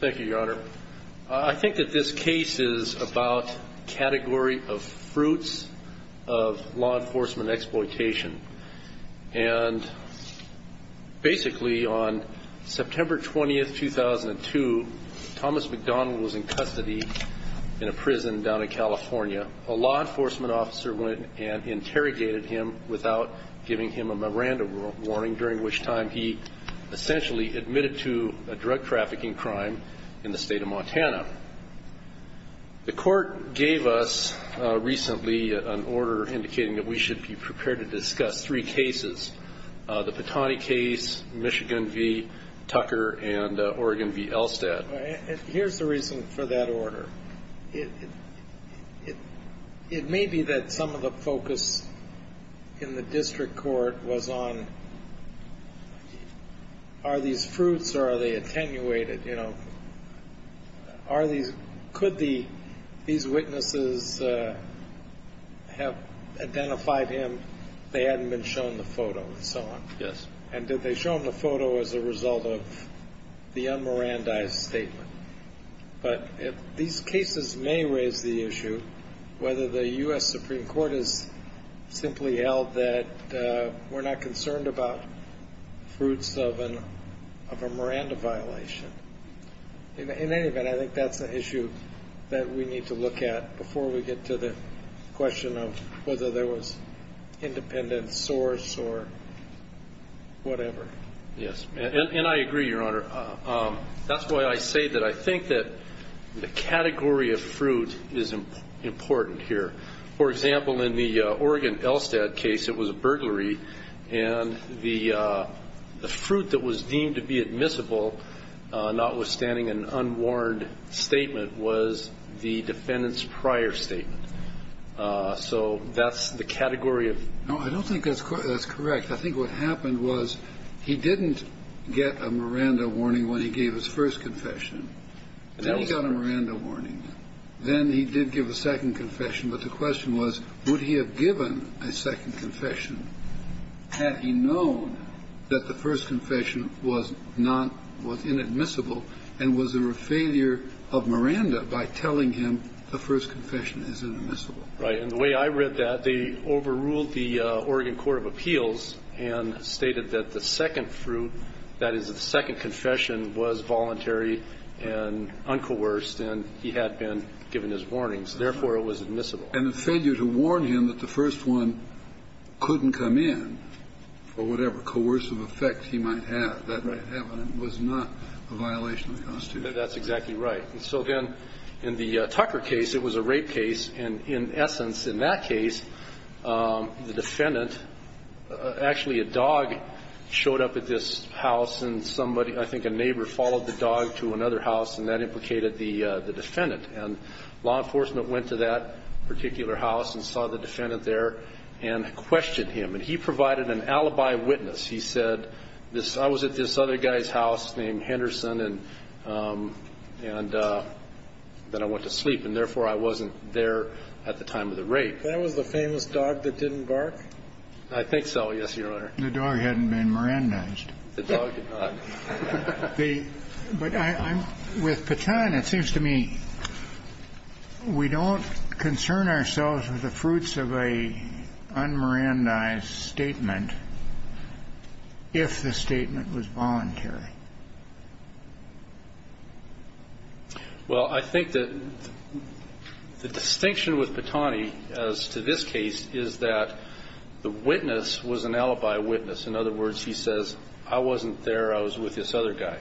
Thank you, Your Honor. I think that this case is about category of fruits of law enforcement exploitation. And basically on September 20, 2002, Thomas McDonald was in custody in a prison down in California. A law enforcement officer went and interrogated him without giving him a memoranda warning, during which time he essentially admitted to a drug trafficking crime in the state of Montana. The court gave us recently an order indicating that we should be prepared to discuss three cases. The Patani case, Michigan v. Tucker, and Oregon v. Elstad. It may be that some of the focus in the district court was on, are these fruits or are they attenuated, you know? Could these witnesses have identified him, they hadn't been shown the photo, and so on? Yes. And did they show him the photo as a result of the unmerandized statement? But these cases may raise the issue whether the U.S. Supreme Court has simply held that we're not concerned about fruits of a Miranda violation. In any event, I think that's an issue that we need to look at before we get to the question of whether there was independent source or whatever. Yes, and I agree, Your Honor. That's why I say that I think that the category of fruit is important here. For example, in the Oregon-Elstad case, it was a burglary, and the fruit that was deemed to be admissible, notwithstanding an unwarned statement, was the defendant's prior statement. So that's the category of No, I don't think that's correct. I think what happened was he didn't get a Miranda warning when he gave his first confession. Then he got a Miranda warning. Then he did give a second confession, but the question was, would he have given a second confession had he known that the first confession was not – was inadmissible and was a failure of Miranda by telling him the first confession is inadmissible. Right. And the way I read that, they overruled the Oregon Court of Appeals and stated that the second fruit, that is, the second confession, was voluntary and uncoerced, and he had been given his warnings. Therefore, it was admissible. And the failure to warn him that the first one couldn't come in for whatever coercive effect he might have, that may have happened, was not a violation of the Constitution. That's exactly right. And so then, in the Tucker case, it was a rape case, and in essence, in that case, the defendant – actually, a dog showed up at this house, and somebody – I think a neighbor followed the dog to another house, and that implicated the defendant. And law enforcement went to that particular house and saw the defendant there and questioned him. And he provided an alibi witness. He said, this – I was at this other guy's house named Henderson, and then I went to sleep. And therefore, I wasn't there at the time of the rape. That was the famous dog that didn't bark? I think so, yes, Your Honor. The dog hadn't been Mirandized. The dog did not. But I'm – with Petan, it seems to me we don't concern ourselves with the fruits of a un-Mirandized statement if the statement was voluntary. Well, I think that the distinction with Petan, as to this case, is that the witness was an alibi witness. In other words, he says, I wasn't there, I was with this other guy.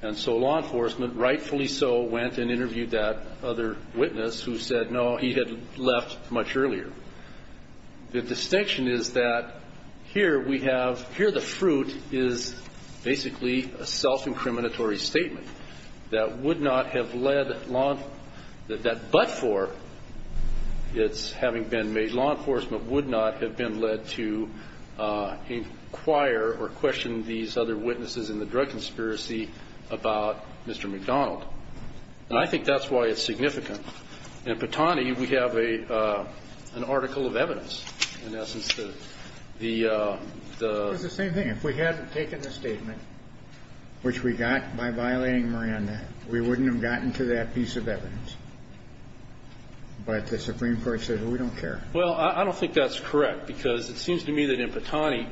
And so law enforcement, rightfully so, went and interviewed that other witness, who said, no, he had left much earlier. The distinction is that here we have – here the fruit is basically a self-incriminatory statement that would not have led law – that but for its having been made, law enforcement would not have been led to inquire or question these other witnesses in the drug conspiracy about Mr. McDonald. And I think that's why it's significant. In Petani, we have an article of evidence. In essence, the – It's the same thing. If we hadn't taken the statement, which we got by violating Miranda, we wouldn't have gotten to that piece of evidence. But the Supreme Court said, well, we don't care. Well, I don't think that's correct, because it seems to me that in Petani,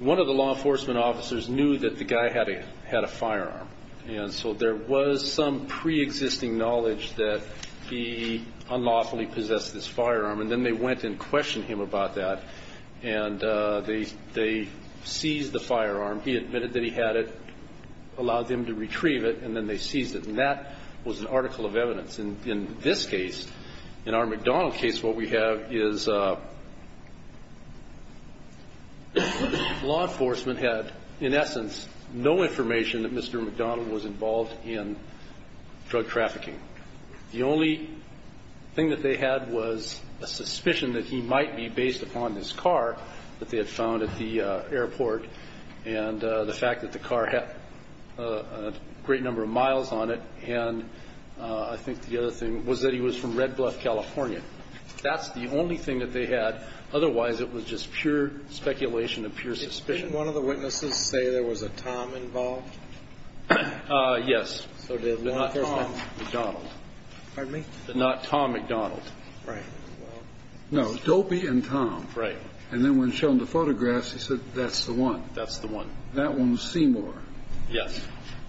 one of the law enforcement officers knew that the guy had a firearm. And so there was some preexisting knowledge that he unlawfully possessed this firearm. And then they went and questioned him about that. And they seized the firearm. He admitted that he had it, allowed them to retrieve it, and then they seized it. And that was an article of evidence. And in this case, in our McDonald case, what we have is law enforcement had, in essence, no information that Mr. McDonald was involved in drug trafficking. The only thing that they had was a suspicion that he might be based upon his car that they had found at the airport, and the fact that the car had a great number of miles on it. And I think the other thing was that he was from Red Bluff, California. That's the only thing that they had. Otherwise, it was just pure speculation and pure suspicion. Didn't one of the witnesses say there was a Tom involved? Yes. So there was a Tom McDonald. Pardon me? Not Tom McDonald. Right. No, Dopey and Tom. Right. And then when shown the photographs, he said, that's the one. That's the one. That one was Seymour. Yes.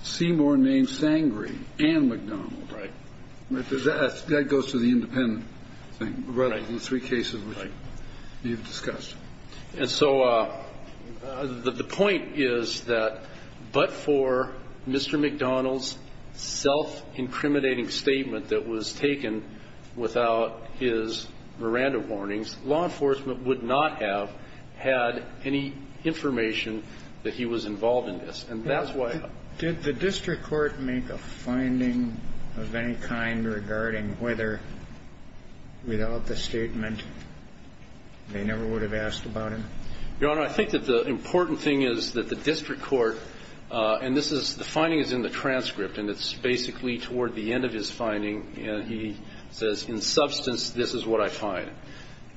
Seymour named Sangree and McDonald. Right. That goes to the independent thing, the three cases which you've discussed. And so the point is that but for Mr. McDonald's self-incriminating statement that was taken without his Miranda warnings, law enforcement would not have had any information that he was involved in this. Did the district court make a finding of any kind regarding whether, without the statement, they never would have asked about him? Your Honor, I think that the important thing is that the district court, and this is, the finding is in the transcript. And it's basically toward the end of his finding. And he says, in substance, this is what I find.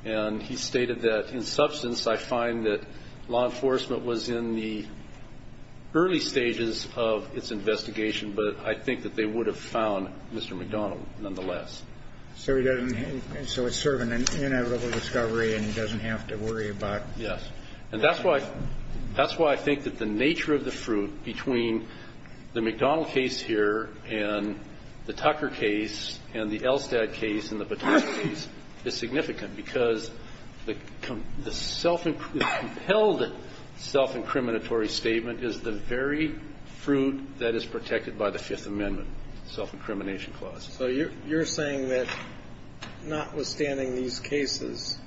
And he stated that, in substance, I find that law enforcement was in the early stages of its investigation, but I think that they would have found Mr. McDonald, nonetheless. So he doesn't, so it's sort of an inevitable discovery and he doesn't have to worry about. Yes. And that's why, that's why I think that the nature of the fruit between the McDonald case here and the Tucker case and the Elstad case and the Patel case is significant. Because the self, the compelled self-incriminatory statement is the very fruit that is protected by the Fifth Amendment, self-incrimination clause. So you're saying that, notwithstanding these cases,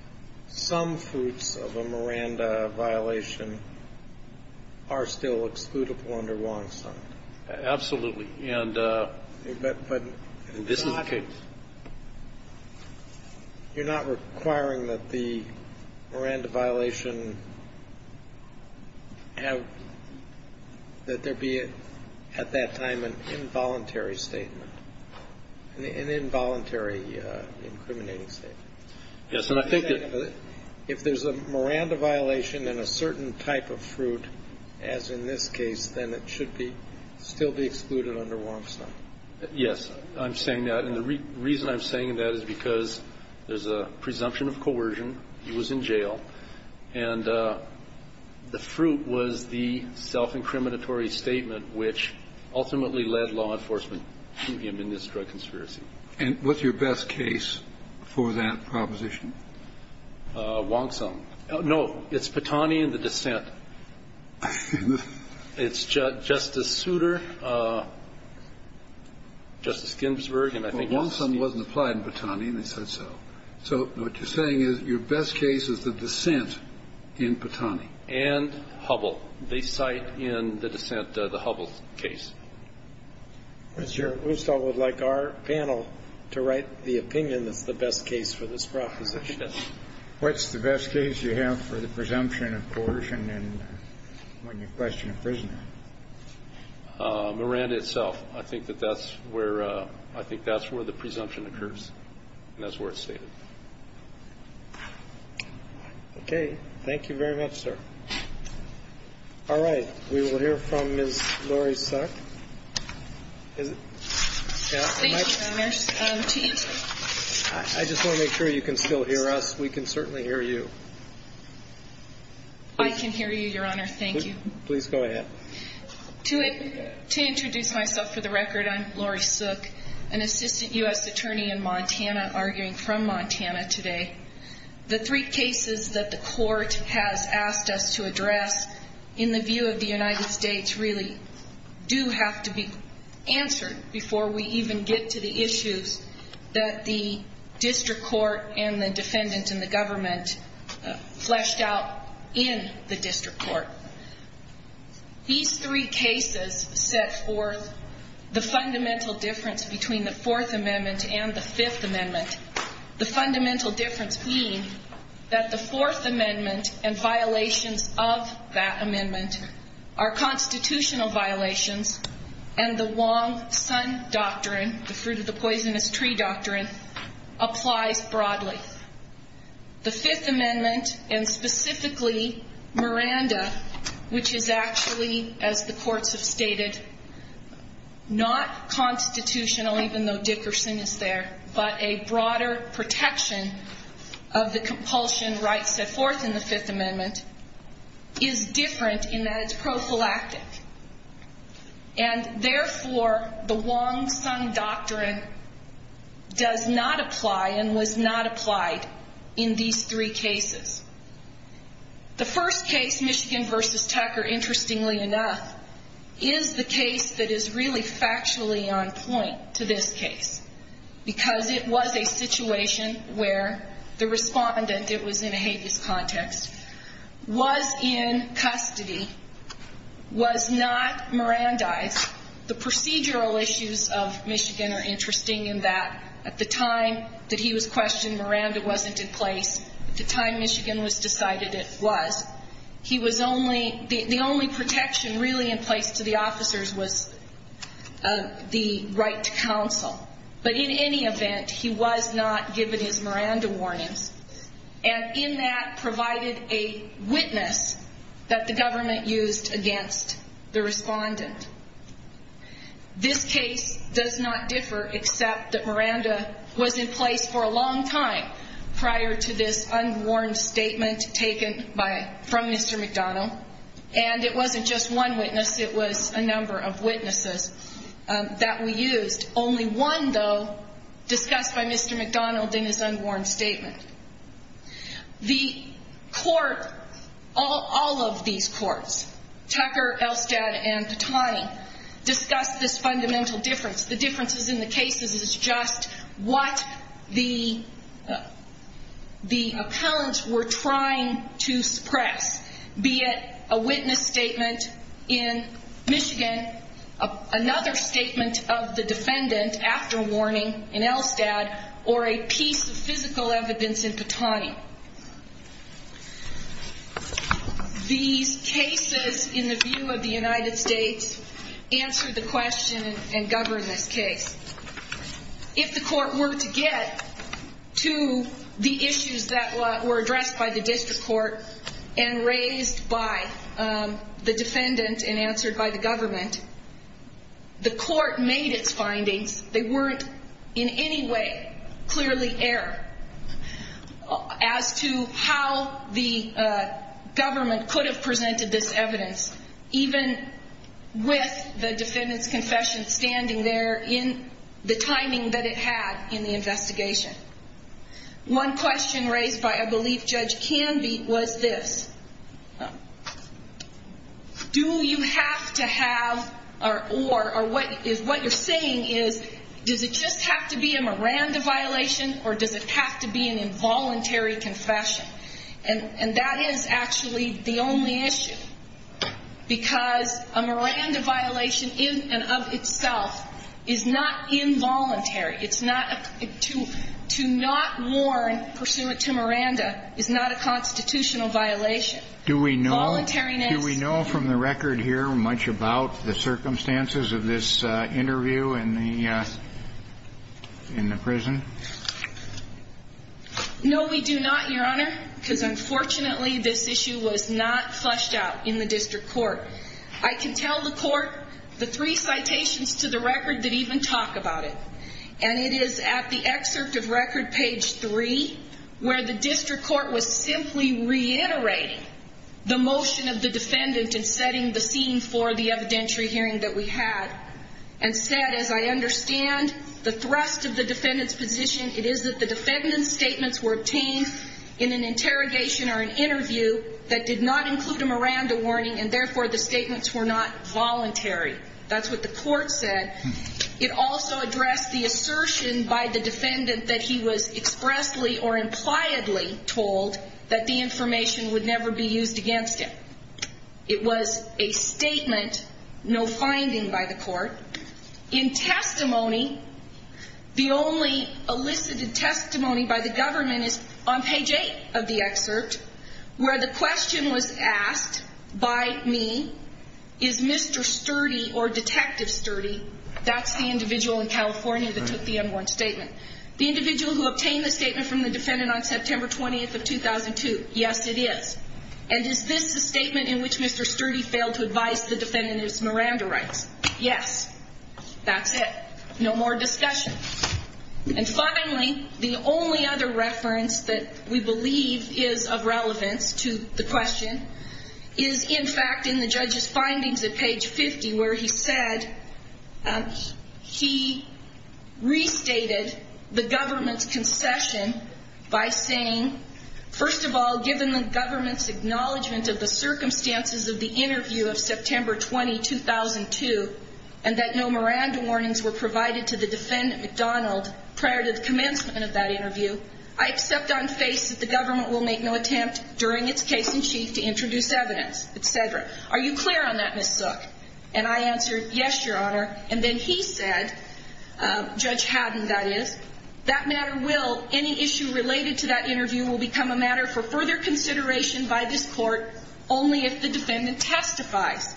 some fruits of a Miranda violation are still excludable under Wong-Sung? Absolutely. And this is the case. But you're not requiring that the Miranda violation have, that there be at that time an involuntary statement? An involuntary incriminating statement. Yes. And I think that if there's a Miranda violation in a certain type of fruit, as in this case, then it should be, still be excluded under Wong-Sung. Yes. I'm saying that. And the reason I'm saying that is because there's a presumption of coercion. He was in jail. And the fruit was the self-incriminatory statement, which ultimately led law enforcement to him in this drug conspiracy. And what's your best case for that proposition? Wong-Sung. No, it's Patani and the dissent. It's Justice Souter, Justice Ginsburg, and I think else. Well, Wong-Sung wasn't applied in Patani, and they said so. So what you're saying is your best case is the dissent in Patani? And Hubbell. They cite in the dissent the Hubbell case. Mr. Roussel would like our panel to write the opinion that's the best case for this proposition. What's the best case you have for the presumption of coercion when you question a prisoner? Miranda itself. I think that that's where, I think that's where the presumption occurs. And that's where it's stated. Okay. Thank you very much, sir. All right. We will hear from Ms. Lori Sook. Thank you, Your Honor. I just want to make sure you can still hear us. We can certainly hear you. I can hear you, Your Honor. Thank you. Please go ahead. To introduce myself for the record, I'm Lori Sook, an assistant U.S. attorney in Montana, arguing from Montana today. The three cases that the court has asked us to address in the view of the United States really do have to be answered before we even get to the issues that the district court and the defendant and the government fleshed out in the district court. These three cases set forth the fundamental difference between the Fourth Amendment and the Fifth Amendment. The fundamental difference being that the Fourth Amendment and violations of that amendment are constitutional violations, and the Wong Sun Doctrine, the fruit of the poisonous tree doctrine, applies broadly. The Fifth Amendment, and specifically Miranda, which is actually, as the courts have stated, not constitutional, even though Dickerson is there, but a broader protection of the compulsion rights set forth in the Fifth Amendment, is different in that it's prophylactic. And, therefore, the Wong Sun Doctrine does not apply and was not applied in these three cases. The first case, Michigan v. Tucker, interestingly enough, is the case that is really factually on point to this case, because it was a situation where the respondent, it was in a habeas context, was in custody, was not Mirandized. The procedural issues of Michigan are interesting in that at the time that he was questioned, Miranda wasn't in place. At the time Michigan was decided, it was. He was only, the only protection really in place to the officers was the right to counsel. But in any event, he was not given his Miranda warnings, and in that provided a witness that the government used against the respondent. This case does not differ except that Miranda was in place for a long time prior to this unwarned statement taken by, from Mr. McDonnell, and it wasn't just one witness, it was a number of witnesses that we used. Only one, though, discussed by Mr. McDonnell in his unwarned statement. The court, all of these courts, Tucker, Elstad, and Patani, discussed this fundamental difference. The differences in the cases is just what the, the appellants were trying to suppress. Be it a witness statement in Michigan, another statement of the defendant after warning in Elstad, or a piece of physical evidence in Patani. These cases, in the view of the United States, answer the question and govern this case. If the court were to get to the issues that were addressed by the district court and raised by the defendant and answered by the government, the court made its findings. They weren't in any way clearly error as to how the government could have presented this case, the timing that it had in the investigation. One question raised by, I believe, Judge Canby was this. Do you have to have, or what you're saying is, does it just have to be a Miranda violation or does it have to be an involuntary confession? And that is actually the only issue, because a Miranda violation in and of itself is not involuntary. It's not, to not warn pursuant to Miranda is not a constitutional violation. Do we know from the record here much about the circumstances of this interview in the prison? No, we do not, Your Honor, because unfortunately this issue was not flushed out in the district court. I can tell the court the three citations to the record that even talk about it. And it is at the excerpt of record page three where the district court was simply reiterating the motion of the defendant in setting the scene for the evidentiary hearing that we had and said, as I understand the thrust of the defendant's position, it is that the defendant's statements were obtained in an interrogation or an interview that did not include a Miranda warning and therefore the statements were not voluntary. That's what the court said. It also addressed the assertion by the defendant that he was expressly or impliedly told that the information would never be used against him. It was a statement, no finding by the court. In testimony, the only elicited testimony by the government is on page eight of the record. statement that the defendant's statement was obtained by me. Is Mr. Sturdy or Detective Sturdy, that's the individual in California that took the unwarranted statement, the individual who obtained the statement from the defendant on September 20th of 2002? Yes, it is. And is this a statement in which Mr. Sturdy failed to advise the defendant of his Miranda rights? Yes. That's it. No more discussion. And finally, the only other reference that we believe is of relevance to the question is, in fact, in the judge's findings at page 50 where he said he restated the government's acknowledgment of the circumstances of the interview of September 20, 2002, and that no Miranda warnings were provided to the defendant, McDonald, prior to the commencement of that interview, I accept on faith that the government will make no attempt during its case-in-chief to introduce evidence, et cetera. Are you clear on that, Ms. Sook? And I answered, yes, Your Honor. And then he said, Judge Haddon, that is, that matter will, any issue related to that interview will become a matter for further consideration by this court only if the defendant testifies.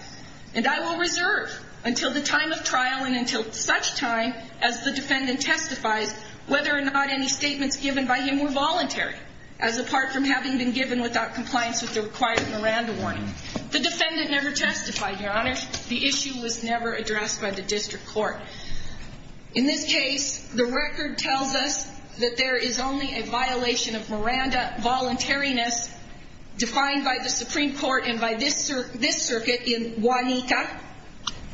And I will reserve until the time of trial and until such time as the defendant testifies whether or not any statements given by him were voluntary, as apart from having been given without compliance with the required Miranda warning. The defendant never testified, Your Honor. The issue was never addressed by the district court. In this case, the record tells us that there is only a violation of Miranda voluntariness defined by the Supreme Court and by this circuit in Juanita.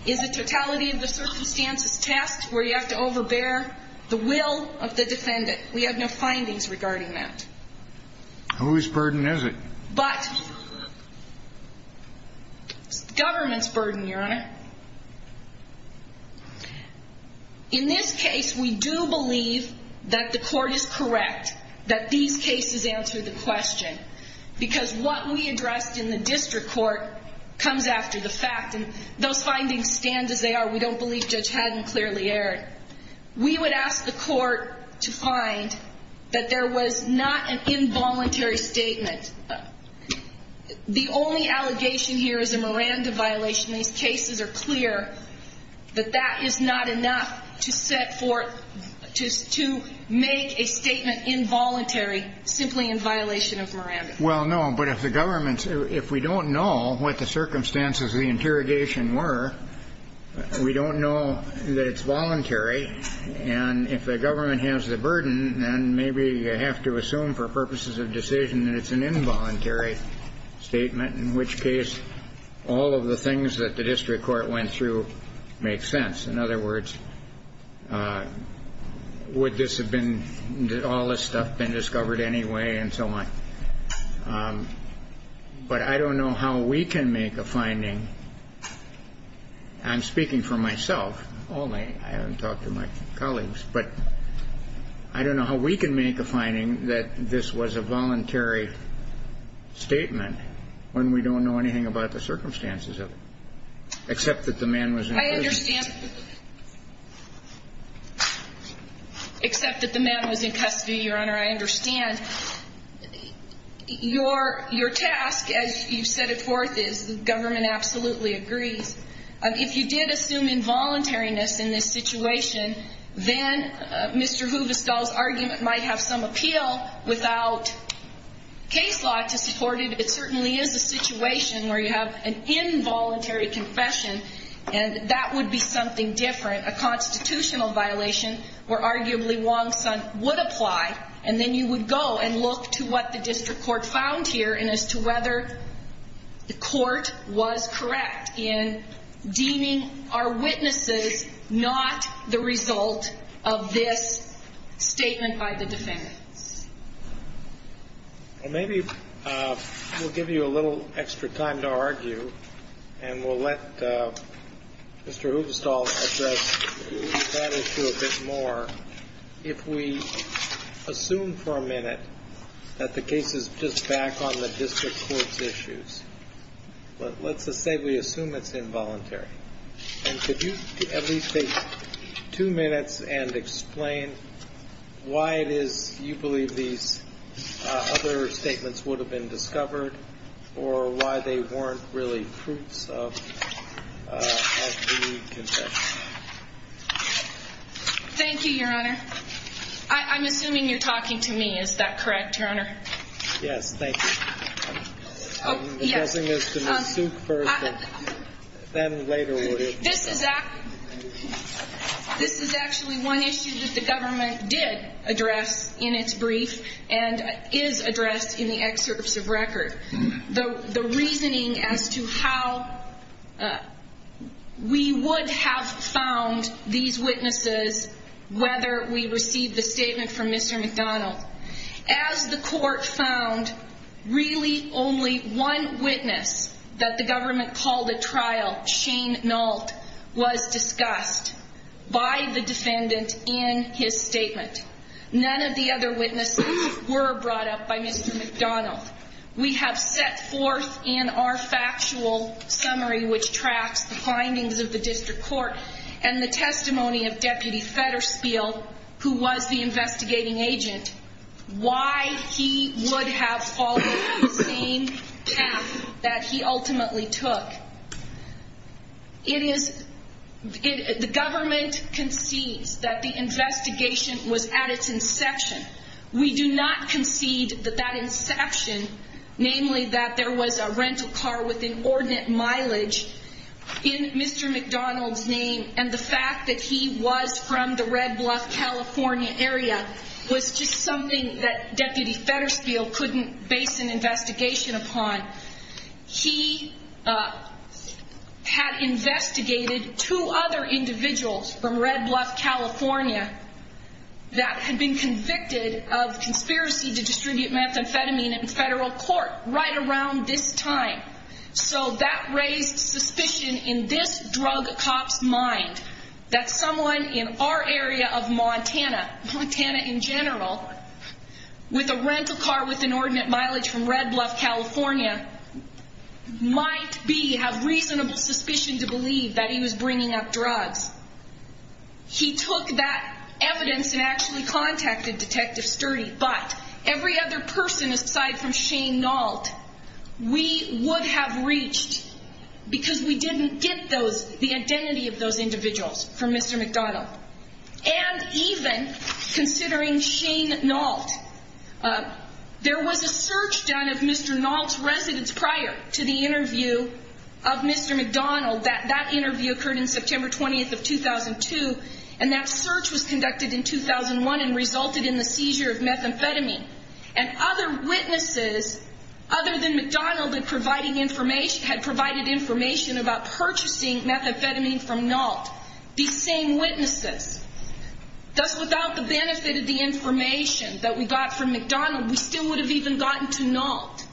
It's a totality of the circumstances test where you have to overbear the will of the defendant. We have no findings regarding that. Whose burden is it? But it's the government's burden, Your Honor. In this case, we do believe that the court is correct, that these cases answer the question. Because what we addressed in the district court comes after the fact. And those findings stand as they are. We don't believe Judge Haddon clearly erred. We would ask the court to find that there was not an involuntary statement. The only allegation here is a Miranda violation. These cases are clear that that is not enough to set forth to make a statement involuntary simply in violation of Miranda. Well, no. But if the government's – if we don't know what the circumstances of the interrogation were, we don't know that it's voluntary. And if the government has the burden, then maybe you have to assume for purposes of decision that it's an involuntary statement, in which case all of the things that the district court went through make sense. In other words, would this have been – all this stuff been discovered anyway and so on? But I don't know how we can make a finding – I'm speaking for myself only. I haven't talked to my colleagues. But I don't know how we can make a finding that this was a voluntary statement when we don't know anything about the circumstances of it, except that the man was in prison. I understand – except that the man was in custody, Your Honor. I understand. Your task, as you set it forth, is the government absolutely agrees. If you did assume involuntariness in this situation, then Mr. Huvestal's argument might have some appeal. Without case law to support it, it certainly is a situation where you have an involuntary confession, and that would be something different. A constitutional violation where arguably Wong-Sun would apply, and then you would go and look to what the district court found here and as to whether the court was correct in deeming our witnesses not the result of this statement by the defendants. Well, maybe we'll give you a little extra time to argue and we'll let Mr. Huvestal address that issue a bit more if we assume for a minute that the case is just back on the district court's issues. But let's just say we assume it's involuntary, and could you at least take two minutes and explain why it is you believe these other statements would have been discovered or why they weren't really proofs of the confession? Thank you, Your Honor. I'm assuming you're talking to me. Is that correct, Your Honor? Yes, thank you. I'm addressing this to Ms. Suk first, but then later we'll hear from you. This is actually one issue that the government did address in its brief and is addressed in the excerpts of record, the reasoning as to how we would have found these witnesses whether we received the statement from Mr. McDonald. As the court found, really only one witness that the government called at trial, Shane Nault, was discussed by the defendant in his statement. None of the other witnesses were brought up by Mr. McDonald. We have set forth in our factual summary, which tracks the findings of the district court, and the testimony of Deputy Fedderspiel, who was the investigating agent, why he would have followed the same path that he ultimately took. The government concedes that the investigation was at its inception. We do not concede that that inception, namely that there was a rental car with inordinate mileage in Mr. McDonald's name and the fact that he was from the Red Bluff, California area, was just something that Deputy Fedderspiel couldn't base an investigation upon. He had investigated two other individuals from Red Bluff, California that had been convicted of conspiracy to distribute methamphetamine in federal court right around this time. So that raised suspicion in this drug cop's mind that someone in our area of Montana, Montana in general, with a rental car with inordinate mileage from Red Bluff, California, might have reasonable suspicion to believe that he was bringing up drugs. He took that evidence and actually contacted Detective Sturdy, but every other person aside from Shane Nault, we would have reached because we didn't get the identity of those individuals from Mr. McDonald. And even considering Shane Nault, there was a search done of Mr. Nault's residence prior to the interview of Mr. McDonald. That interview occurred in September 20th of 2002, and that search was conducted in 2001 and resulted in the seizure of methamphetamine. And other witnesses other than McDonald had provided information about purchasing methamphetamine from Nault. These same witnesses. Thus, without the benefit of the information that we got from McDonald, we still would have even gotten to Nault.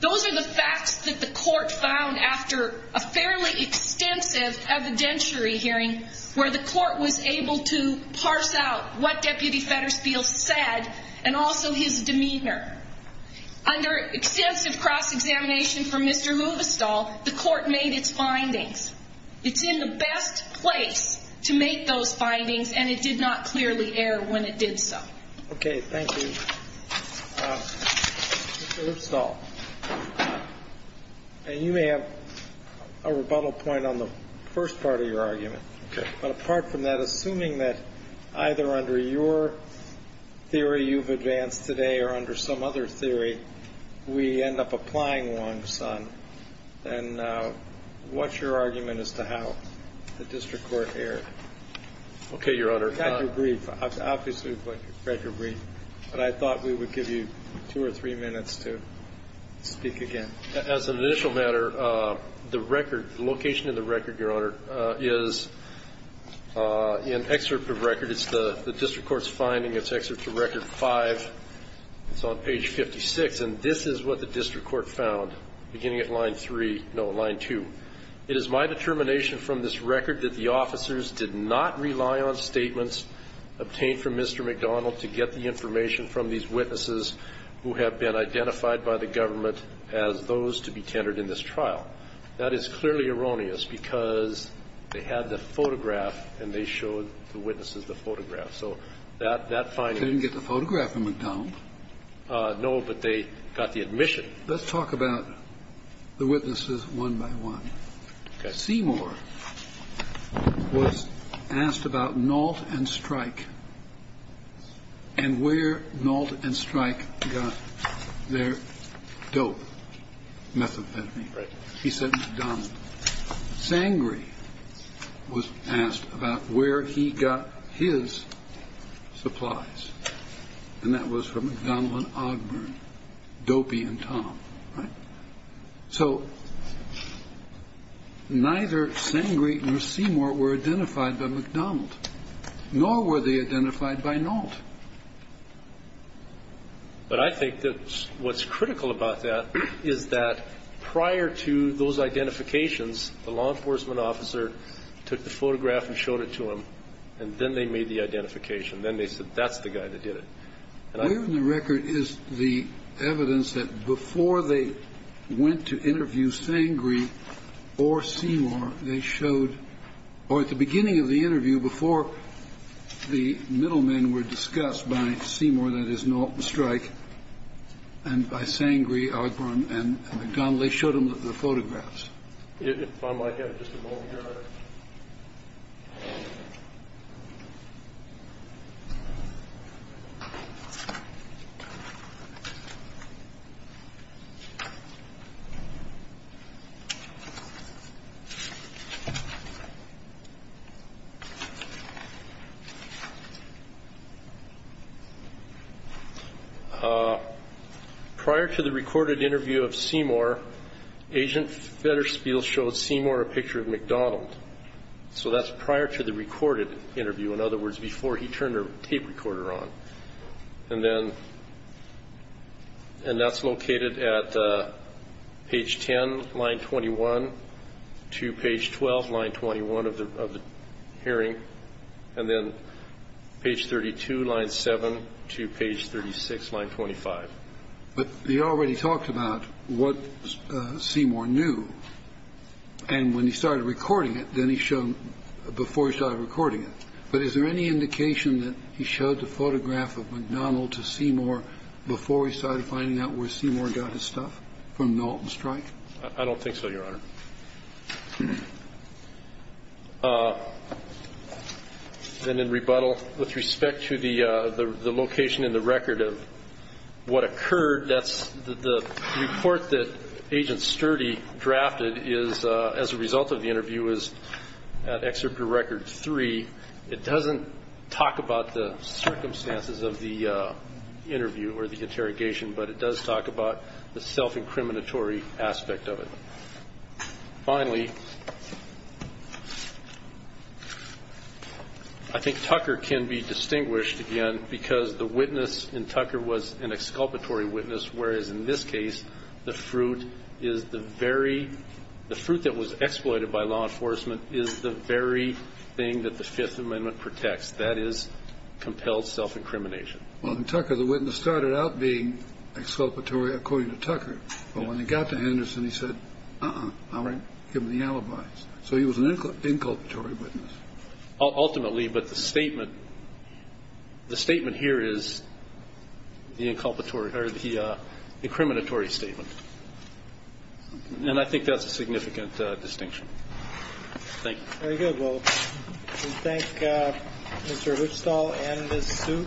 Those are the facts that the court found after a fairly extensive evidentiary hearing where the court was able to parse out what Deputy Federspiel said and also his demeanor. Under extensive cross-examination from Mr. Movistol, the court made its findings. It's in the best place to make those findings, and it did not clearly err when it did so. Okay. Thank you. Mr. Movistol, you may have a rebuttal point on the first part of your argument. Okay. But apart from that, assuming that either under your theory you've advanced today or under some other theory, we end up applying one, son. And what's your argument as to how the district court erred? Okay, Your Honor. I've got your brief. I've obviously got your brief. But I thought we would give you two or three minutes to speak again. As an initial matter, the record, the location of the record, Your Honor, is in excerpt of record. It's the district court's finding. It's excerpt to record 5. It's on page 56. And this is what the district court found beginning at line 3 no, line 2. It is my determination from this record that the officers did not rely on statements obtained from Mr. McDonald to get the information from these witnesses who have been identified by the government as those to be tendered in this trial. That is clearly erroneous, because they had the photograph and they showed the witnesses the photograph. So that finding was found. They didn't get the photograph from McDonald. No, but they got the admission. Let's talk about the witnesses one by one. Okay. Seymour was asked about Nault and Strike and where Nault and Strike got their dope methamphetamine. He said McDonald. Sangre was asked about where he got his supplies. And that was from McDonald and Ogburn, Dopey and Tom. So neither Sangre nor Seymour were identified by McDonald, nor were they identified by Nault. But I think that what's critical about that is that prior to those identifications, the law enforcement officer took the photograph and showed it to him, and then they made the identification. Then they said, that's the guy that did it. And I think the record is the evidence that before they went to interview Sangre or Seymour, or at the beginning of the interview, before the middlemen were discussed by Seymour, that is, Nault and Strike, and by Sangre, Ogburn, and McDonald, they showed them the photographs. If I might have just a moment here. Prior to the recorded interview of Seymour, Agent Fedderspiel showed Seymour a picture of McDonald. So that's prior to the recorded interview. In other words, before he turned the tape recorder on. And that's located at page 10, line 21, to page 12, line 21 of the hearing. And then page 32, line 7, to page 36, line 25. But you already talked about what Seymour knew. And when he started recording it, then he showed, before he started recording it. But is there any indication that he showed the photograph of McDonald to Seymour before he started finding out where Seymour got his stuff from Nault and Strike? I don't think so, Your Honor. And in rebuttal, with respect to the location in the record of what occurred, that's the report that Agent Sturdy drafted is, as a result of the interview, is at Excerpt to Record 3. It doesn't talk about the circumstances of the interview or the interrogation, but it does talk about the self-incriminatory aspect of it. Finally, I think Tucker can be distinguished, again, because the witness in Tucker was an exculpatory witness, whereas in this case, the fruit that was exploited by law enforcement is the very thing that the Fifth Amendment protects. That is compelled self-incrimination. Well, in Tucker, the witness started out being exculpatory, according to Tucker. But when he got to Henderson, he said, uh-uh, I'm going to give him the alibis. So he was an inculpatory witness. Ultimately, but the statement here is the incriminatory statement. And I think that's a significant distinction. Thank you. Very good. Well, we thank Mr. Huchstall and Ms. Suk.